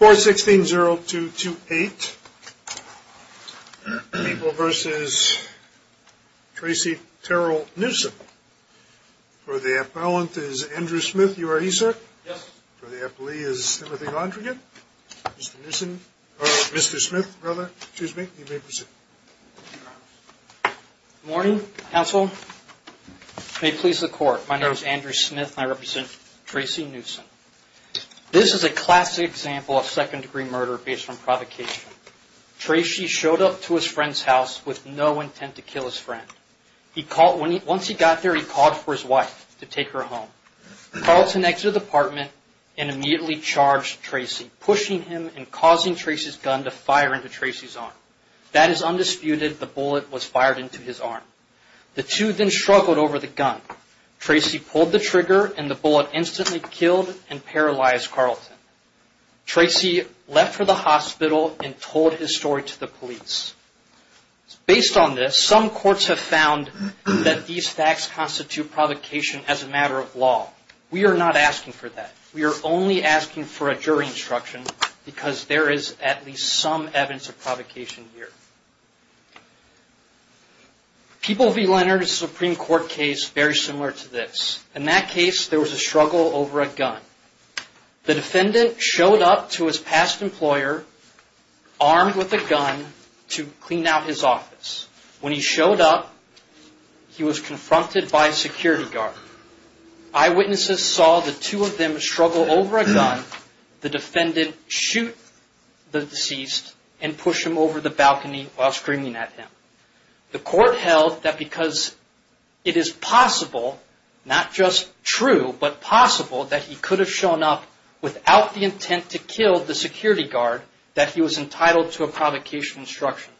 416-0228 People v. Tracy Terrell-Newson For the appellant is Andrew Smith. You are he, sir? Yes. For the appellee is Timothy Londrigan. Mr. Smith, brother, excuse me. You may proceed. Good morning, counsel. May it please the court, my name is Andrew Smith and I represent Tracy Newson. This is a classic example of second-degree murder based on provocation. Tracy showed up to his friend's house with no intent to kill his friend. Once he got there, he called for his wife to take her home. Carlson exited the apartment and immediately charged Tracy, pushing him and causing Tracy's gun to fire into Tracy's arm. That is undisputed, the bullet was fired into his arm. The two then struggled over the gun. Tracy pulled the trigger and the bullet instantly killed and paralyzed Carlson. Tracy left for the hospital and told his story to the police. Based on this, some courts have found that these facts constitute provocation as a matter of law. We are not asking for that. We are only asking for a jury instruction because there is at least some evidence of provocation here. People v. Leonard is a Supreme Court case very similar to this. In that case, there was a struggle over a gun. The defendant showed up to his past employer armed with a gun to clean out his office. When he showed up, he was confronted by a security guard. Eyewitnesses saw the two of them struggle over a gun. The defendant shoot the deceased and push him over the balcony while screaming at him. The court held that because it is possible, not just true, but possible that he could have shown up without the intent to kill the security guard, that he was entitled to a provocation instruction.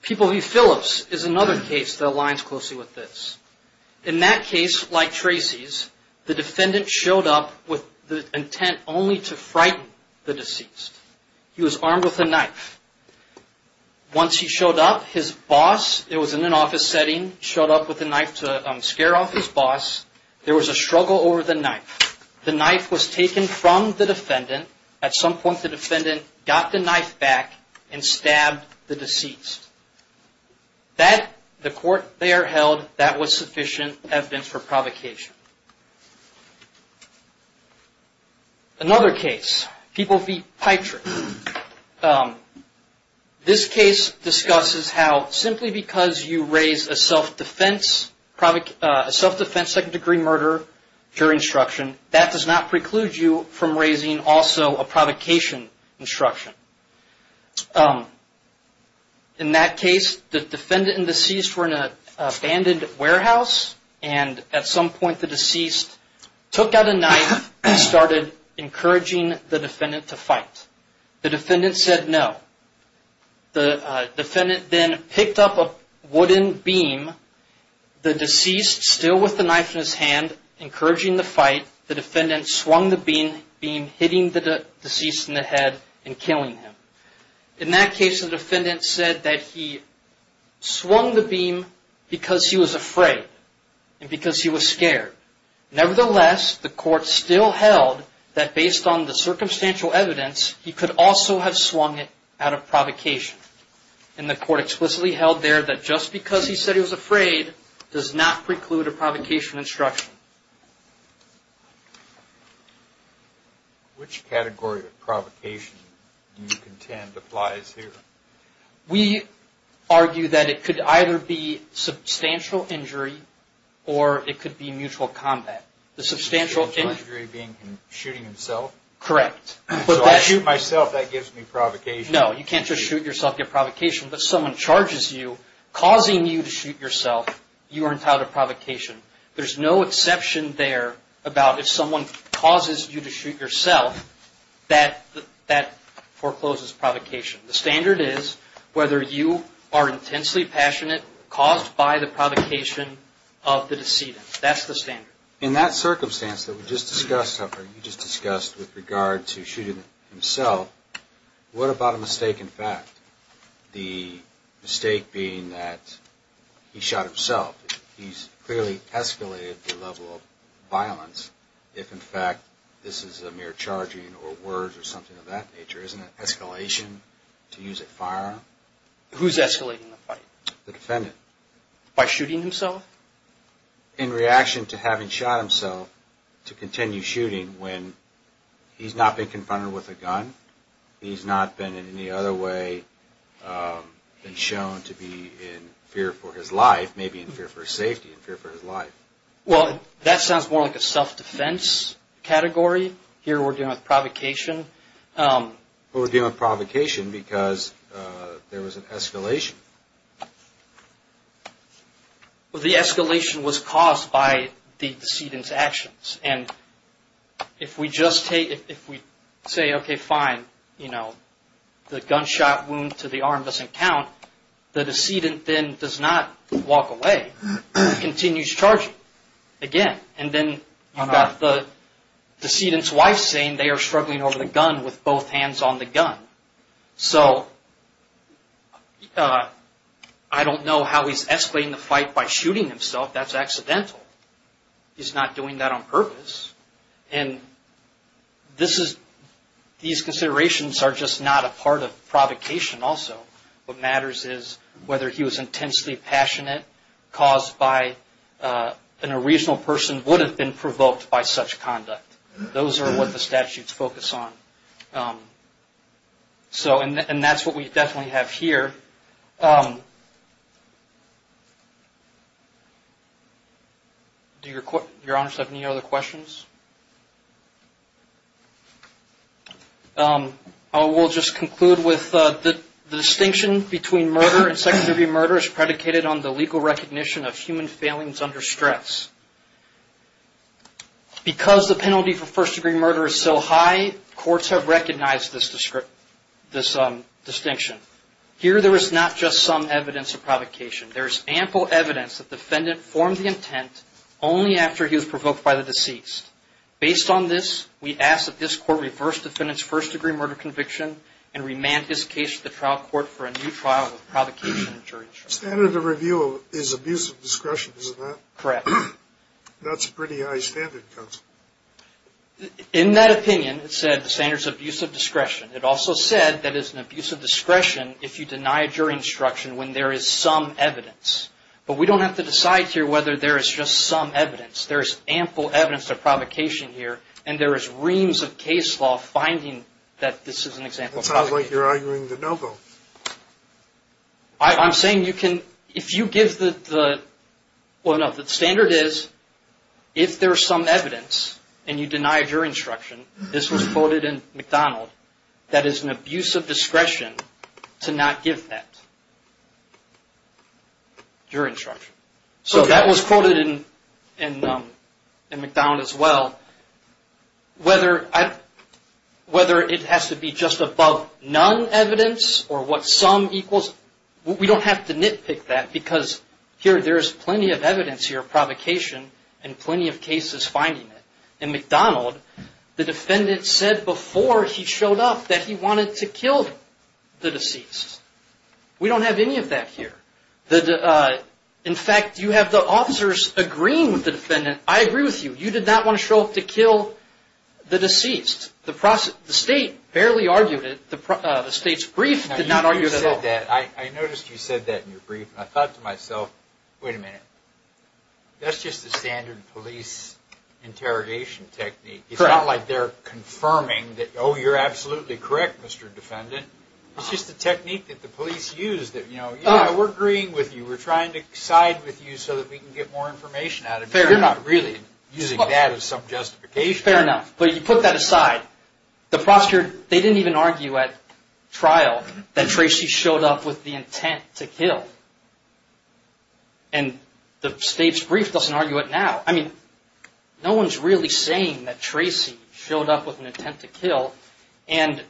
People v. Phillips is another case that aligns closely with this. In that case, like Tracy's, the defendant showed up with the intent only to frighten the deceased. He was armed with a knife. Once he showed up, his boss, it was in an office setting, showed up with a knife to scare off his boss. There was a struggle over the knife. The knife was taken from the defendant. At some point, the defendant got the knife back and stabbed the deceased. That, the court there held, that was sufficient evidence for provocation. This case discusses how simply because you raise a self-defense second-degree murder jury instruction, that does not preclude you from raising also a provocation instruction. In that case, the defendant and deceased were in an abandoned warehouse. At some point, the deceased took out a knife and started encouraging the defendant to fight. The defendant said no. The defendant then picked up a wooden beam. The deceased, still with the knife in his hand, encouraging the fight, the defendant swung the beam, hitting the deceased in the head and killing him. In that case, the defendant said that he swung the beam because he was afraid and because he was scared. Nevertheless, the court still held that based on the circumstantial evidence, he could also have swung it out of provocation. And the court explicitly held there that just because he said he was afraid, does not preclude a provocation instruction. Which category of provocation do you contend applies here? We argue that it could either be substantial injury or it could be mutual combat. The substantial injury being shooting himself? Correct. So I shoot myself, that gives me provocation. No, you can't just shoot yourself, get provocation. If someone charges you, causing you to shoot yourself, you aren't out of provocation. There's no exception there about if someone causes you to shoot yourself, that forecloses provocation. The standard is whether you are intensely passionate, caused by the provocation of the decedent. That's the standard. In that circumstance that we just discussed, Huffer, you just discussed with regard to shooting himself, what about a mistake in fact? The mistake being that he shot himself. He's clearly escalated the level of violence if in fact this is a mere charging or words or something of that nature. Isn't it escalation to use a firearm? Who's escalating the fight? The defendant. By shooting himself? In reaction to having shot himself to continue shooting when he's not been confronted with a gun, he's not been in any other way been shown to be in fear for his life, maybe in fear for his safety, in fear for his life. Well, that sounds more like a self-defense category. Here we're dealing with provocation. We're dealing with provocation because there was an escalation. If we say, okay, fine, the gunshot wound to the arm doesn't count, the decedent then does not walk away. He continues charging again. And then you've got the decedent's wife saying they are struggling over the gun with both hands on the gun. So I don't know how he's escalating the fight by shooting himself. That's accidental. He's not doing that on purpose. And these considerations are just not a part of provocation also. What matters is whether he was intensely passionate, caused by an original person, would have been provoked by such conduct. Those are what the statutes focus on. And that's what we definitely have here. Do your honors have any other questions? I will just conclude with the distinction between murder and second-degree murder is predicated on the legal recognition of human failings under stress. Because the penalty for first-degree murder is so high, courts have recognized this distinction. Here there is not just some evidence of provocation. There is ample evidence that the defendant formed the intent only after he was provoked by the deceased. Based on this, we ask that this court reverse defendant's first-degree murder conviction and remand his case to the trial court for a new trial with provocation and jury trial. The standard of review is abuse of discretion, isn't that? Correct. That's a pretty high standard, counsel. In that opinion, it said the standard is abuse of discretion. It also said that it's an abuse of discretion if you deny a jury instruction when there is some evidence. But we don't have to decide here whether there is just some evidence. There is ample evidence of provocation here. And there is reams of case law finding that this is an example of provocation. It sounds like you're arguing the no vote. I'm saying if you give the standard is if there is some evidence and you deny a jury instruction, this was quoted in McDonald, that is an abuse of discretion to not give that jury instruction. So that was quoted in McDonald as well. Whether it has to be just above none evidence or what some equals, we don't have to nitpick that because here there is plenty of evidence here of provocation and plenty of cases finding it. In McDonald, the defendant said before he showed up that he wanted to kill the deceased. We don't have any of that here. In fact, you have the officers agreeing with the defendant. I agree with you. You did not want to show up to kill the deceased. The state barely argued it. The state's brief did not argue it at all. I noticed you said that in your brief. I thought to myself, wait a minute, that's just a standard police interrogation technique. It's not like they're confirming that, oh, you're absolutely correct, Mr. Defendant. It's just a technique that the police use that, you know, we're agreeing with you. We're trying to side with you so that we can get more information out of you. You're not really using that as some justification. Fair enough. But you put that aside. The prosecutor, they didn't even argue at trial that Tracy showed up with the intent to kill. And the state's brief doesn't argue it now. I mean, no one's really saying that Tracy showed up with an intent to kill. And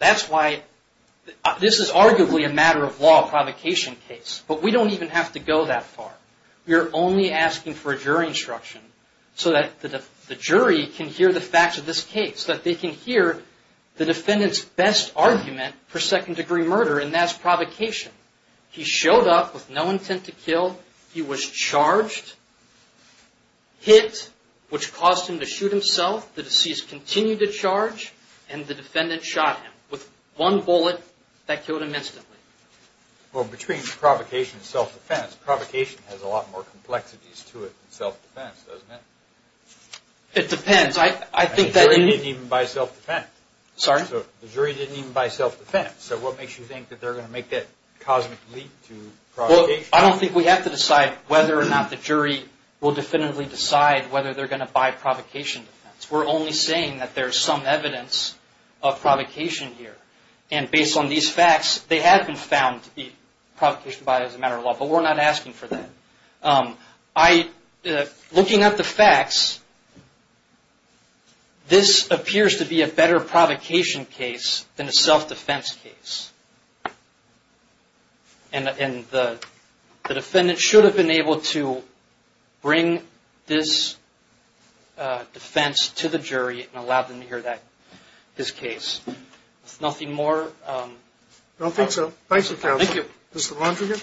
that's why this is arguably a matter-of-law provocation case. But we don't even have to go that far. We're only asking for a jury instruction so that the jury can hear the facts of this case, that they can hear the defendant's best argument for second-degree murder, and that's provocation. He showed up with no intent to kill. He was charged, hit, which caused him to shoot himself. The deceased continued to charge, and the defendant shot him with one bullet that killed him instantly. Well, between provocation and self-defense, provocation has a lot more complexities to it than self-defense, doesn't it? It depends. The jury didn't even buy self-defense. Sorry? The jury didn't even buy self-defense. So what makes you think that they're going to make that cosmic leap to provocation? Well, I don't think we have to decide whether or not the jury will definitively decide whether they're going to buy provocation defense. We're only saying that there's some evidence of provocation here. And based on these facts, they have been found to be provocation by as a matter-of-law, but we're not asking for that. Looking at the facts, this appears to be a better provocation case than a self-defense case. And the defendant should have been able to bring this defense to the jury and allow them to hear his case. There's nothing more? I don't think so. Thank you, counsel. Thank you. Mr. Londrigan?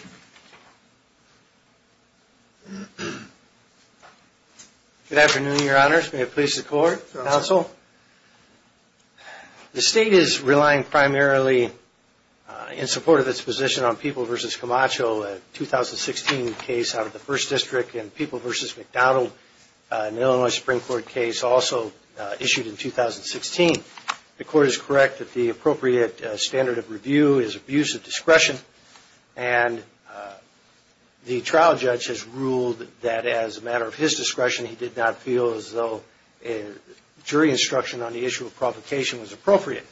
Good afternoon, Your Honors. May it please the Court? Counsel? The State is relying primarily in support of its position on People v. Camacho, a 2016 case out of the 1st District and People v. McDonald, an Illinois Supreme Court case also issued in 2016. The Court is correct that the appropriate standard of review is abuse of discretion. And the trial judge has ruled that as a matter of his discretion, he did not feel as though jury instruction on the issue of provocation was appropriate.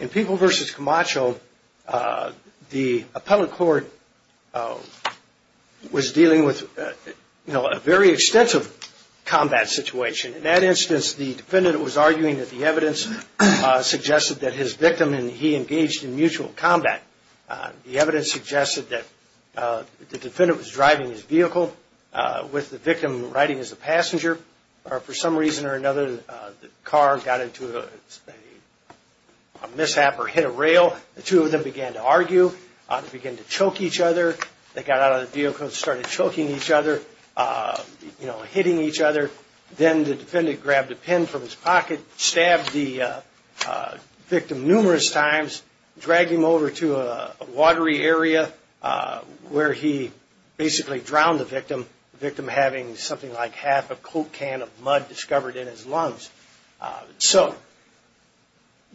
In People v. Camacho, the appellate court was dealing with a very extensive combat situation. In that instance, the defendant was arguing that the evidence suggested that his victim and he engaged in mutual combat. The evidence suggested that the defendant was driving his vehicle with the victim riding as a passenger. For some reason or another, the car got into a mishap or hit a rail. The two of them began to argue. They began to choke each other. They got out of the vehicle and started choking each other, you know, hitting each other. Then the defendant grabbed a pen from his pocket, stabbed the victim numerous times, dragged him over to a watery area where he basically drowned the victim, the victim having something like half a Coke can of mud discovered in his lungs. So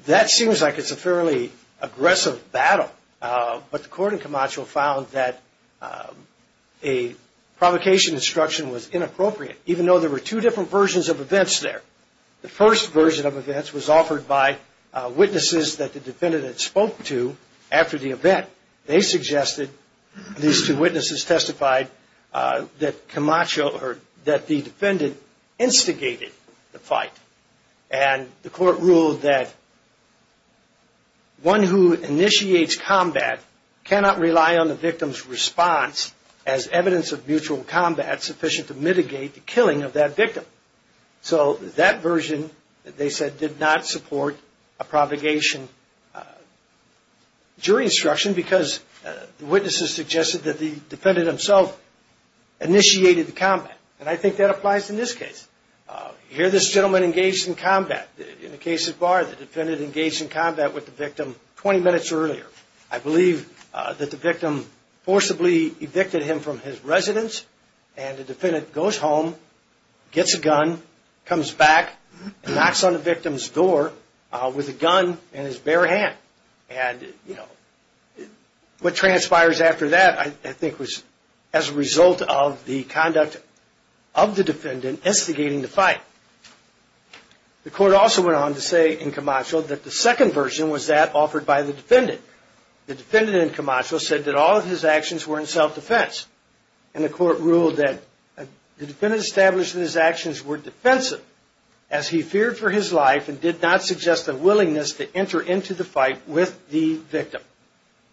that seems like it's a fairly aggressive battle. But the Court in Camacho found that a provocation instruction was inappropriate. Even though there were two different versions of events there. The first version of events was offered by witnesses that the defendant had spoke to after the event. They suggested, these two witnesses testified, that Camacho or that the defendant instigated the fight. And the Court ruled that one who initiates combat cannot rely on the victim's response as evidence of mutual combat is not sufficient to mitigate the killing of that victim. So that version, they said, did not support a provocation jury instruction because the witnesses suggested that the defendant himself initiated the combat. And I think that applies in this case. Here this gentleman engaged in combat. In the case of Barr, the defendant engaged in combat with the victim 20 minutes earlier. I believe that the victim forcibly evicted him from his residence and the defendant goes home, gets a gun, comes back, knocks on the victim's door with a gun in his bare hand. And what transpires after that I think was as a result of the conduct of the defendant instigating the fight. The Court also went on to say in Camacho that the second version was that offered by the defendant. The defendant in Camacho said that all of his actions were in self-defense and the Court ruled that the defendant established that his actions were defensive as he feared for his life and did not suggest a willingness to enter into the fight with the victim.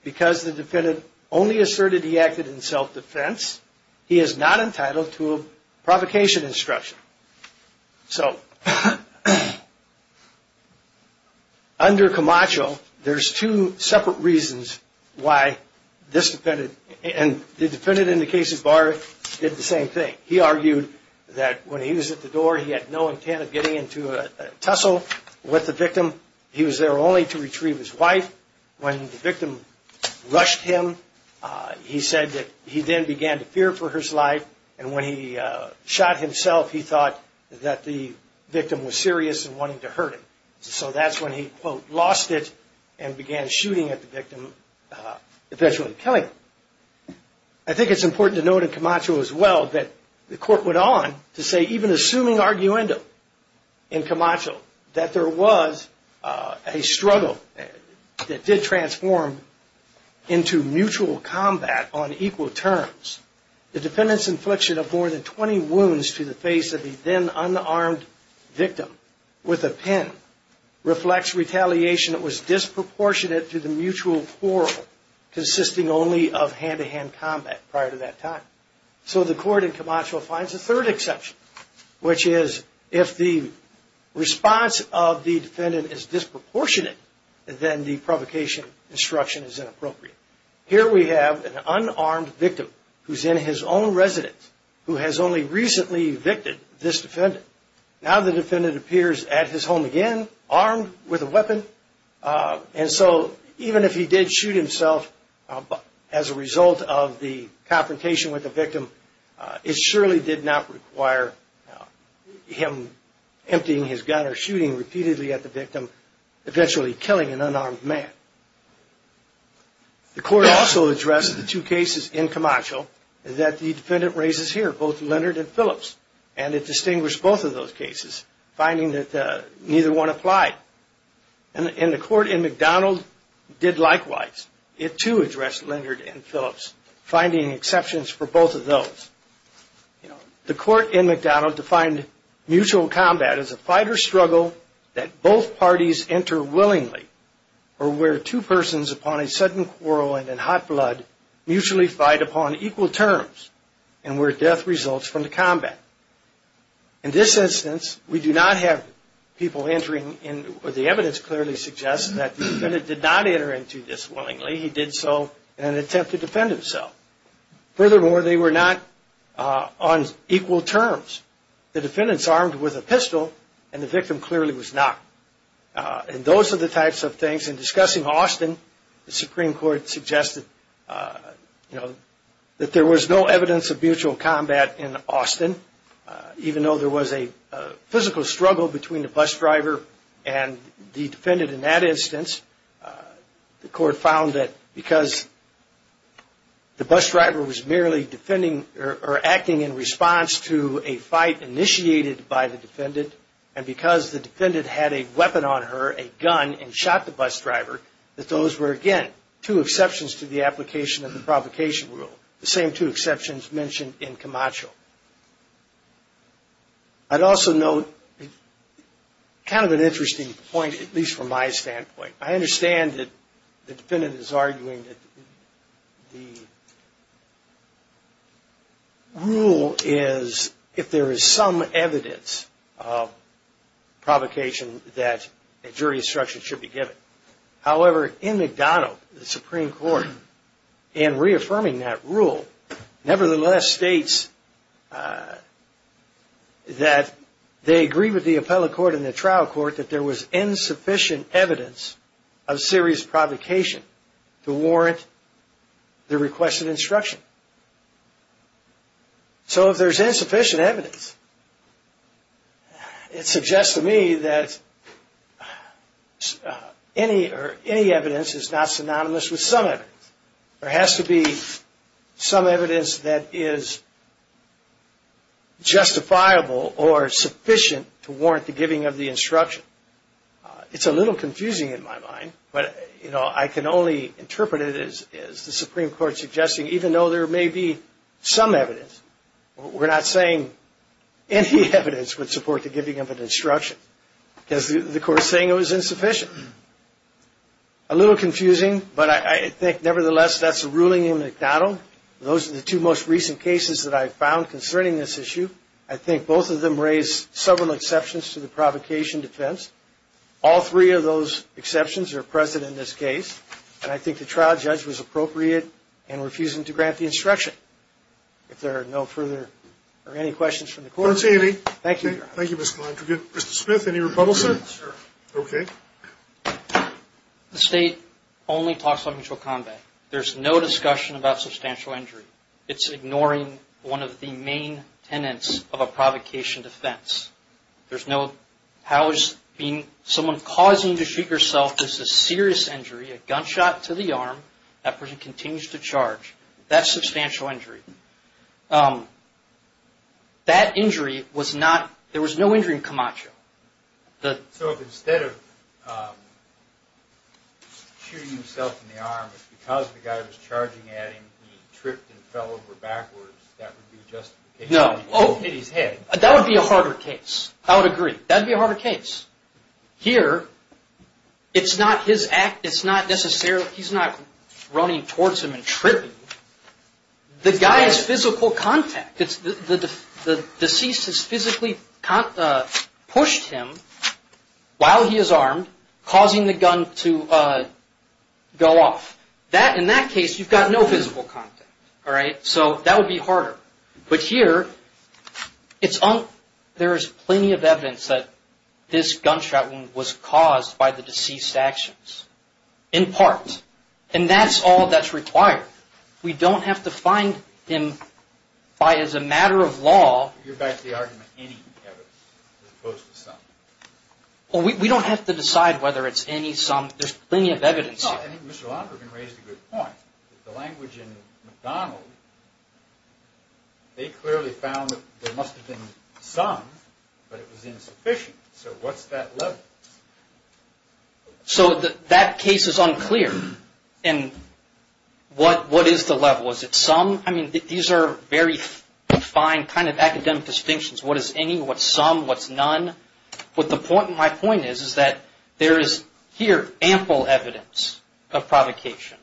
Because the defendant only asserted he acted in self-defense, he is not entitled to a provocation instruction. So under Camacho, there's two separate reasons why this defendant and the defendant in the case of Barr did the same thing. He argued that when he was at the door he had no intent of getting into a tussle with the victim. He was there only to retrieve his wife. When the victim rushed him, he said that he then began to fear for his life and when he shot himself, he thought that the victim was serious and wanted to hurt him. So that's when he, quote, lost it and began shooting at the victim, eventually killing him. I think it's important to note in Camacho as well that the Court went on to say even assuming arguendo in Camacho that there was a struggle that did transform into mutual combat on equal terms, the defendant's infliction of more than 20 wounds to the face of the then unarmed victim with a pen reflects retaliation that was disproportionate to the mutual quarrel consisting only of hand-to-hand combat prior to that time. So the Court in Camacho finds a third exception, which is if the response of the defendant is disproportionate, then the provocation instruction is inappropriate. Here we have an unarmed victim who's in his own residence who has only recently evicted this defendant. Now the defendant appears at his home again armed with a weapon and so even if he did shoot himself as a result of the confrontation with the victim, it surely did not require him emptying his gun or shooting repeatedly at the victim, eventually killing an unarmed man. The Court also addressed the two cases in Camacho that the defendant raises here, both Leonard and Phillips, and it distinguished both of those cases, finding that neither one applied. And the Court in McDonald did likewise. It too addressed Leonard and Phillips, finding exceptions for both of those. The Court in McDonald defined mutual combat as a fight or struggle that both parties enter willingly or where two persons upon a sudden quarrel and in hot blood mutually fight upon equal terms and where death results from the combat. In this instance, we do not have people entering, and the evidence clearly suggests that the defendant did not enter into this willingly. He did so in an attempt to defend himself. Furthermore, they were not on equal terms. The defendant is armed with a pistol and the victim clearly was not. And those are the types of things. In discussing Austin, the Supreme Court suggested that there was no evidence of mutual combat in Austin. Even though there was a physical struggle between the bus driver and the defendant in that instance, the Court found that because the bus driver was merely defending or acting in response to a fight initiated by the defendant, and because the defendant had a weapon on her, a gun, and shot the bus driver, that those were, again, two exceptions to the application of the provocation rule, the same two exceptions mentioned in Camacho. I'd also note kind of an interesting point, at least from my standpoint. I understand that the defendant is arguing that the rule is, if there is some evidence of provocation, that a jury instruction should be given. However, in McDonough, the Supreme Court, in reaffirming that rule, nevertheless states that they agree with the appellate court and the trial court that there was insufficient evidence of serious provocation to warrant the requested instruction. So if there's insufficient evidence, it suggests to me that any evidence is not synonymous with some evidence. There has to be some evidence that is justifiable or sufficient to warrant the giving of the instruction. It's a little confusing in my mind, but I can only interpret it as the Supreme Court suggesting, even though there may be some evidence, we're not saying any evidence would support the giving of an instruction, because the Court is saying it was insufficient. A little confusing, but I think, nevertheless, that's a ruling in McDonough. Those are the two most recent cases that I've found concerning this issue. I think both of them raise several exceptions to the provocation defense. All three of those exceptions are present in this case, and I think the trial judge was appropriate in refusing to grant the instruction. If there are no further or any questions from the court, thank you, Your Honor. Thank you, Mr. Galantri. Mr. Smith, any rebuttals, sir? Sir. Okay. The State only talks about mutual combat. There's no discussion about substantial injury. It's ignoring one of the main tenets of a provocation defense. There's no, how is being, someone causing you to shoot yourself is a serious injury, a gunshot to the arm, that person continues to charge. That's substantial injury. That injury was not, there was no injury in Camacho. So if instead of shooting himself in the arm, because the guy was charging at him, he tripped and fell over backwards, that would be a justification to go hit his head. That would be a harder case. I would agree. That would be a harder case. Here, it's not his act, it's not necessarily, he's not running towards him and tripping. The guy is physical contact. The deceased has physically pushed him while he is armed, causing the gun to go off. In that case, you've got no physical contact. So that would be harder. But here, there is plenty of evidence that this gunshot wound was caused by the deceased's actions, in part. And that's all that's required. We don't have to find him by, as a matter of law. You're back to the argument, any evidence as opposed to some. Well, we don't have to decide whether it's any, some. There's plenty of evidence here. No, I think Mr. Londrigan raised a good point. The language in McDonald, they clearly found that there must have been some, but it was insufficient. So what's that level? So that case is unclear. And what is the level? Is it some? I mean, these are very fine kind of academic distinctions. What is any? What's some? What's none? But the point, my point is, is that there is here ample evidence of provocation.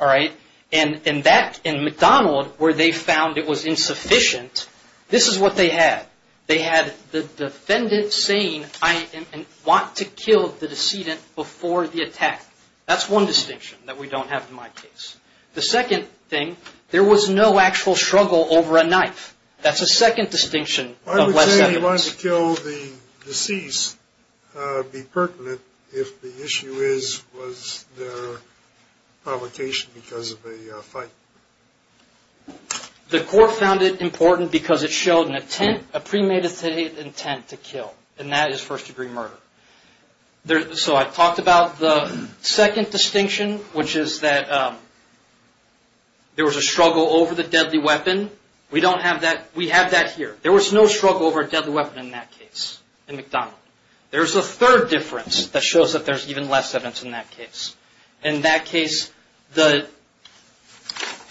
All right? And in McDonald, where they found it was insufficient, this is what they had. They had the defendant saying, I want to kill the decedent before the attack. That's one distinction that we don't have in my case. The second thing, there was no actual struggle over a knife. That's a second distinction of less evidence. I would say he wanted to kill the deceased, be pertinent, if the issue is, was there provocation because of a fight. The court found it important because it showed an intent, a premeditated intent to kill. And that is first-degree murder. So I talked about the second distinction, which is that there was a struggle over the deadly weapon. We don't have that. We have that here. There was no struggle over a deadly weapon in that case, in McDonald. There's a third difference that shows that there's even less evidence in that case. In that case, the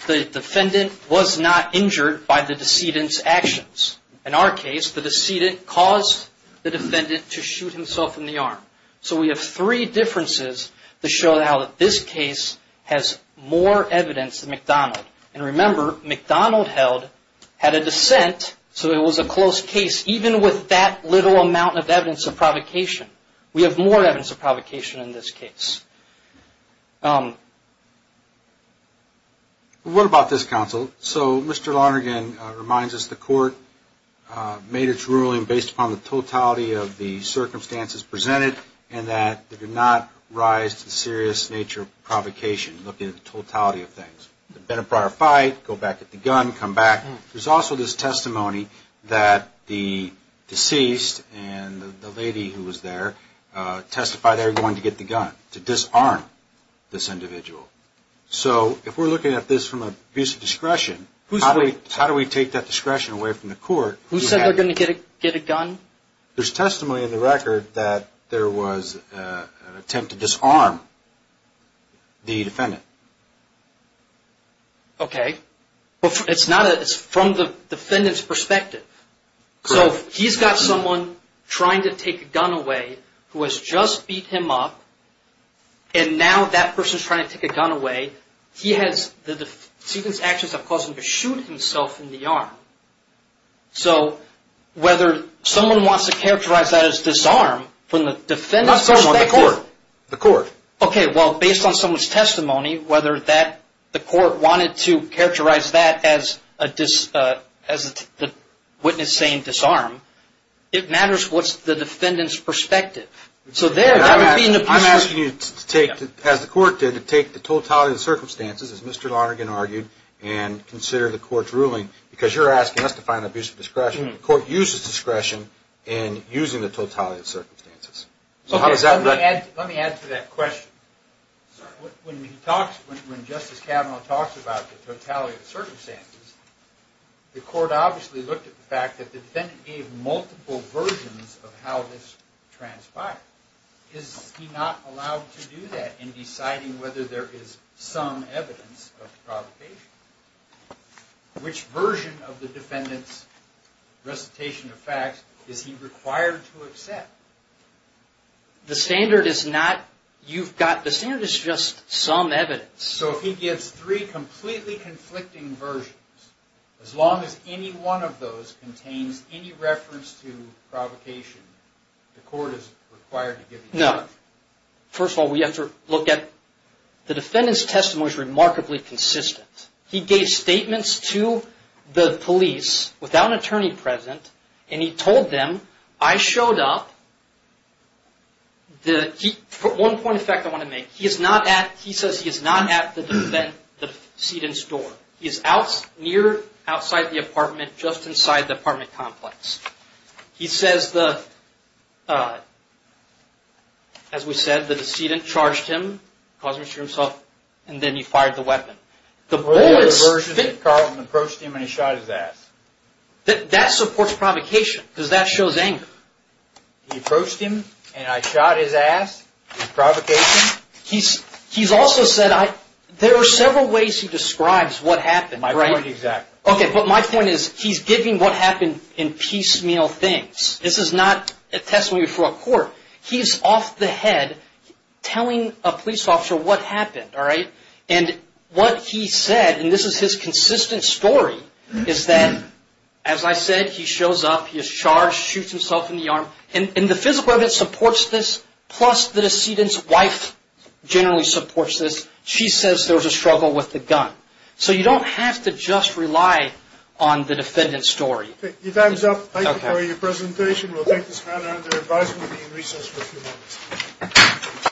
defendant was not injured by the decedent's actions. In our case, the decedent caused the defendant to shoot himself in the arm. So we have three differences that show how this case has more evidence than McDonald. And remember, McDonald held, had a dissent, so it was a close case even with that little amount of evidence of provocation. We have more evidence of provocation in this case. What about this counsel? So Mr. Lonergan reminds us the court made its ruling based upon the totality of the circumstances presented and that there did not rise to the serious nature of provocation looking at the totality of things. There had been a prior fight, go back, get the gun, come back. There's also this testimony that the deceased and the lady who was there testified they were going to get the gun. To disarm this individual. So if we're looking at this from an abuse of discretion, how do we take that discretion away from the court? Who said they were going to get a gun? There's testimony in the record that there was an attempt to disarm the defendant. Okay. It's from the defendant's perspective. So he's got someone trying to take a gun away who has just beat him up and now that person is trying to take a gun away. He has the actions that have caused him to shoot himself in the arm. So whether someone wants to characterize that as disarm from the defendant's perspective. The court. Okay. Well, based on someone's testimony, whether the court wanted to characterize that as the witness saying disarm, it matters what's the defendant's perspective. I'm asking you to take, as the court did, to take the totality of the circumstances, as Mr. Lonergan argued, and consider the court's ruling because you're asking us to find abuse of discretion. Let me add to that question. When Justice Kavanaugh talks about the totality of the circumstances, the court obviously looked at the fact that the defendant gave multiple versions of how this transpired. Is he not allowed to do that in deciding whether there is some evidence of provocation? Which version of the defendant's recitation of facts is he required to accept? The standard is not, you've got, the standard is just some evidence. So if he gives three completely conflicting versions, as long as any one of those contains any reference to provocation, the court is required to give evidence. No. First of all, we have to look at, the defendant's testimony is remarkably consistent. He gave statements to the police without an attorney present, and he told them, I showed up, the, one point of fact I want to make, he is not at, he says he is not at the defendant's door. He is near, outside the apartment, just inside the apartment complex. He says the, as we said, the decedent charged him, caused him to shoot himself, and then he fired the weapon. The bullet's... The version that Carlton approached him and he shot his ass. That supports provocation, because that shows anger. He approached him, and I shot his ass, is provocation. He's also said, there are several ways he describes what happened. My point exactly. Okay, but my point is, he's giving what happened in piecemeal things. This is not a testimony before a court. He's off the head, telling a police officer what happened, all right? And what he said, and this is his consistent story, is that, as I said, he shows up, he is charged, shoots himself in the arm, and the physical evidence supports this, plus the decedent's wife generally supports this. She says there was a struggle with the gun. So you don't have to just rely on the defendant's story. Okay, your time's up. Thank you for your presentation. We'll take this matter under advisement and be in recess for a few minutes.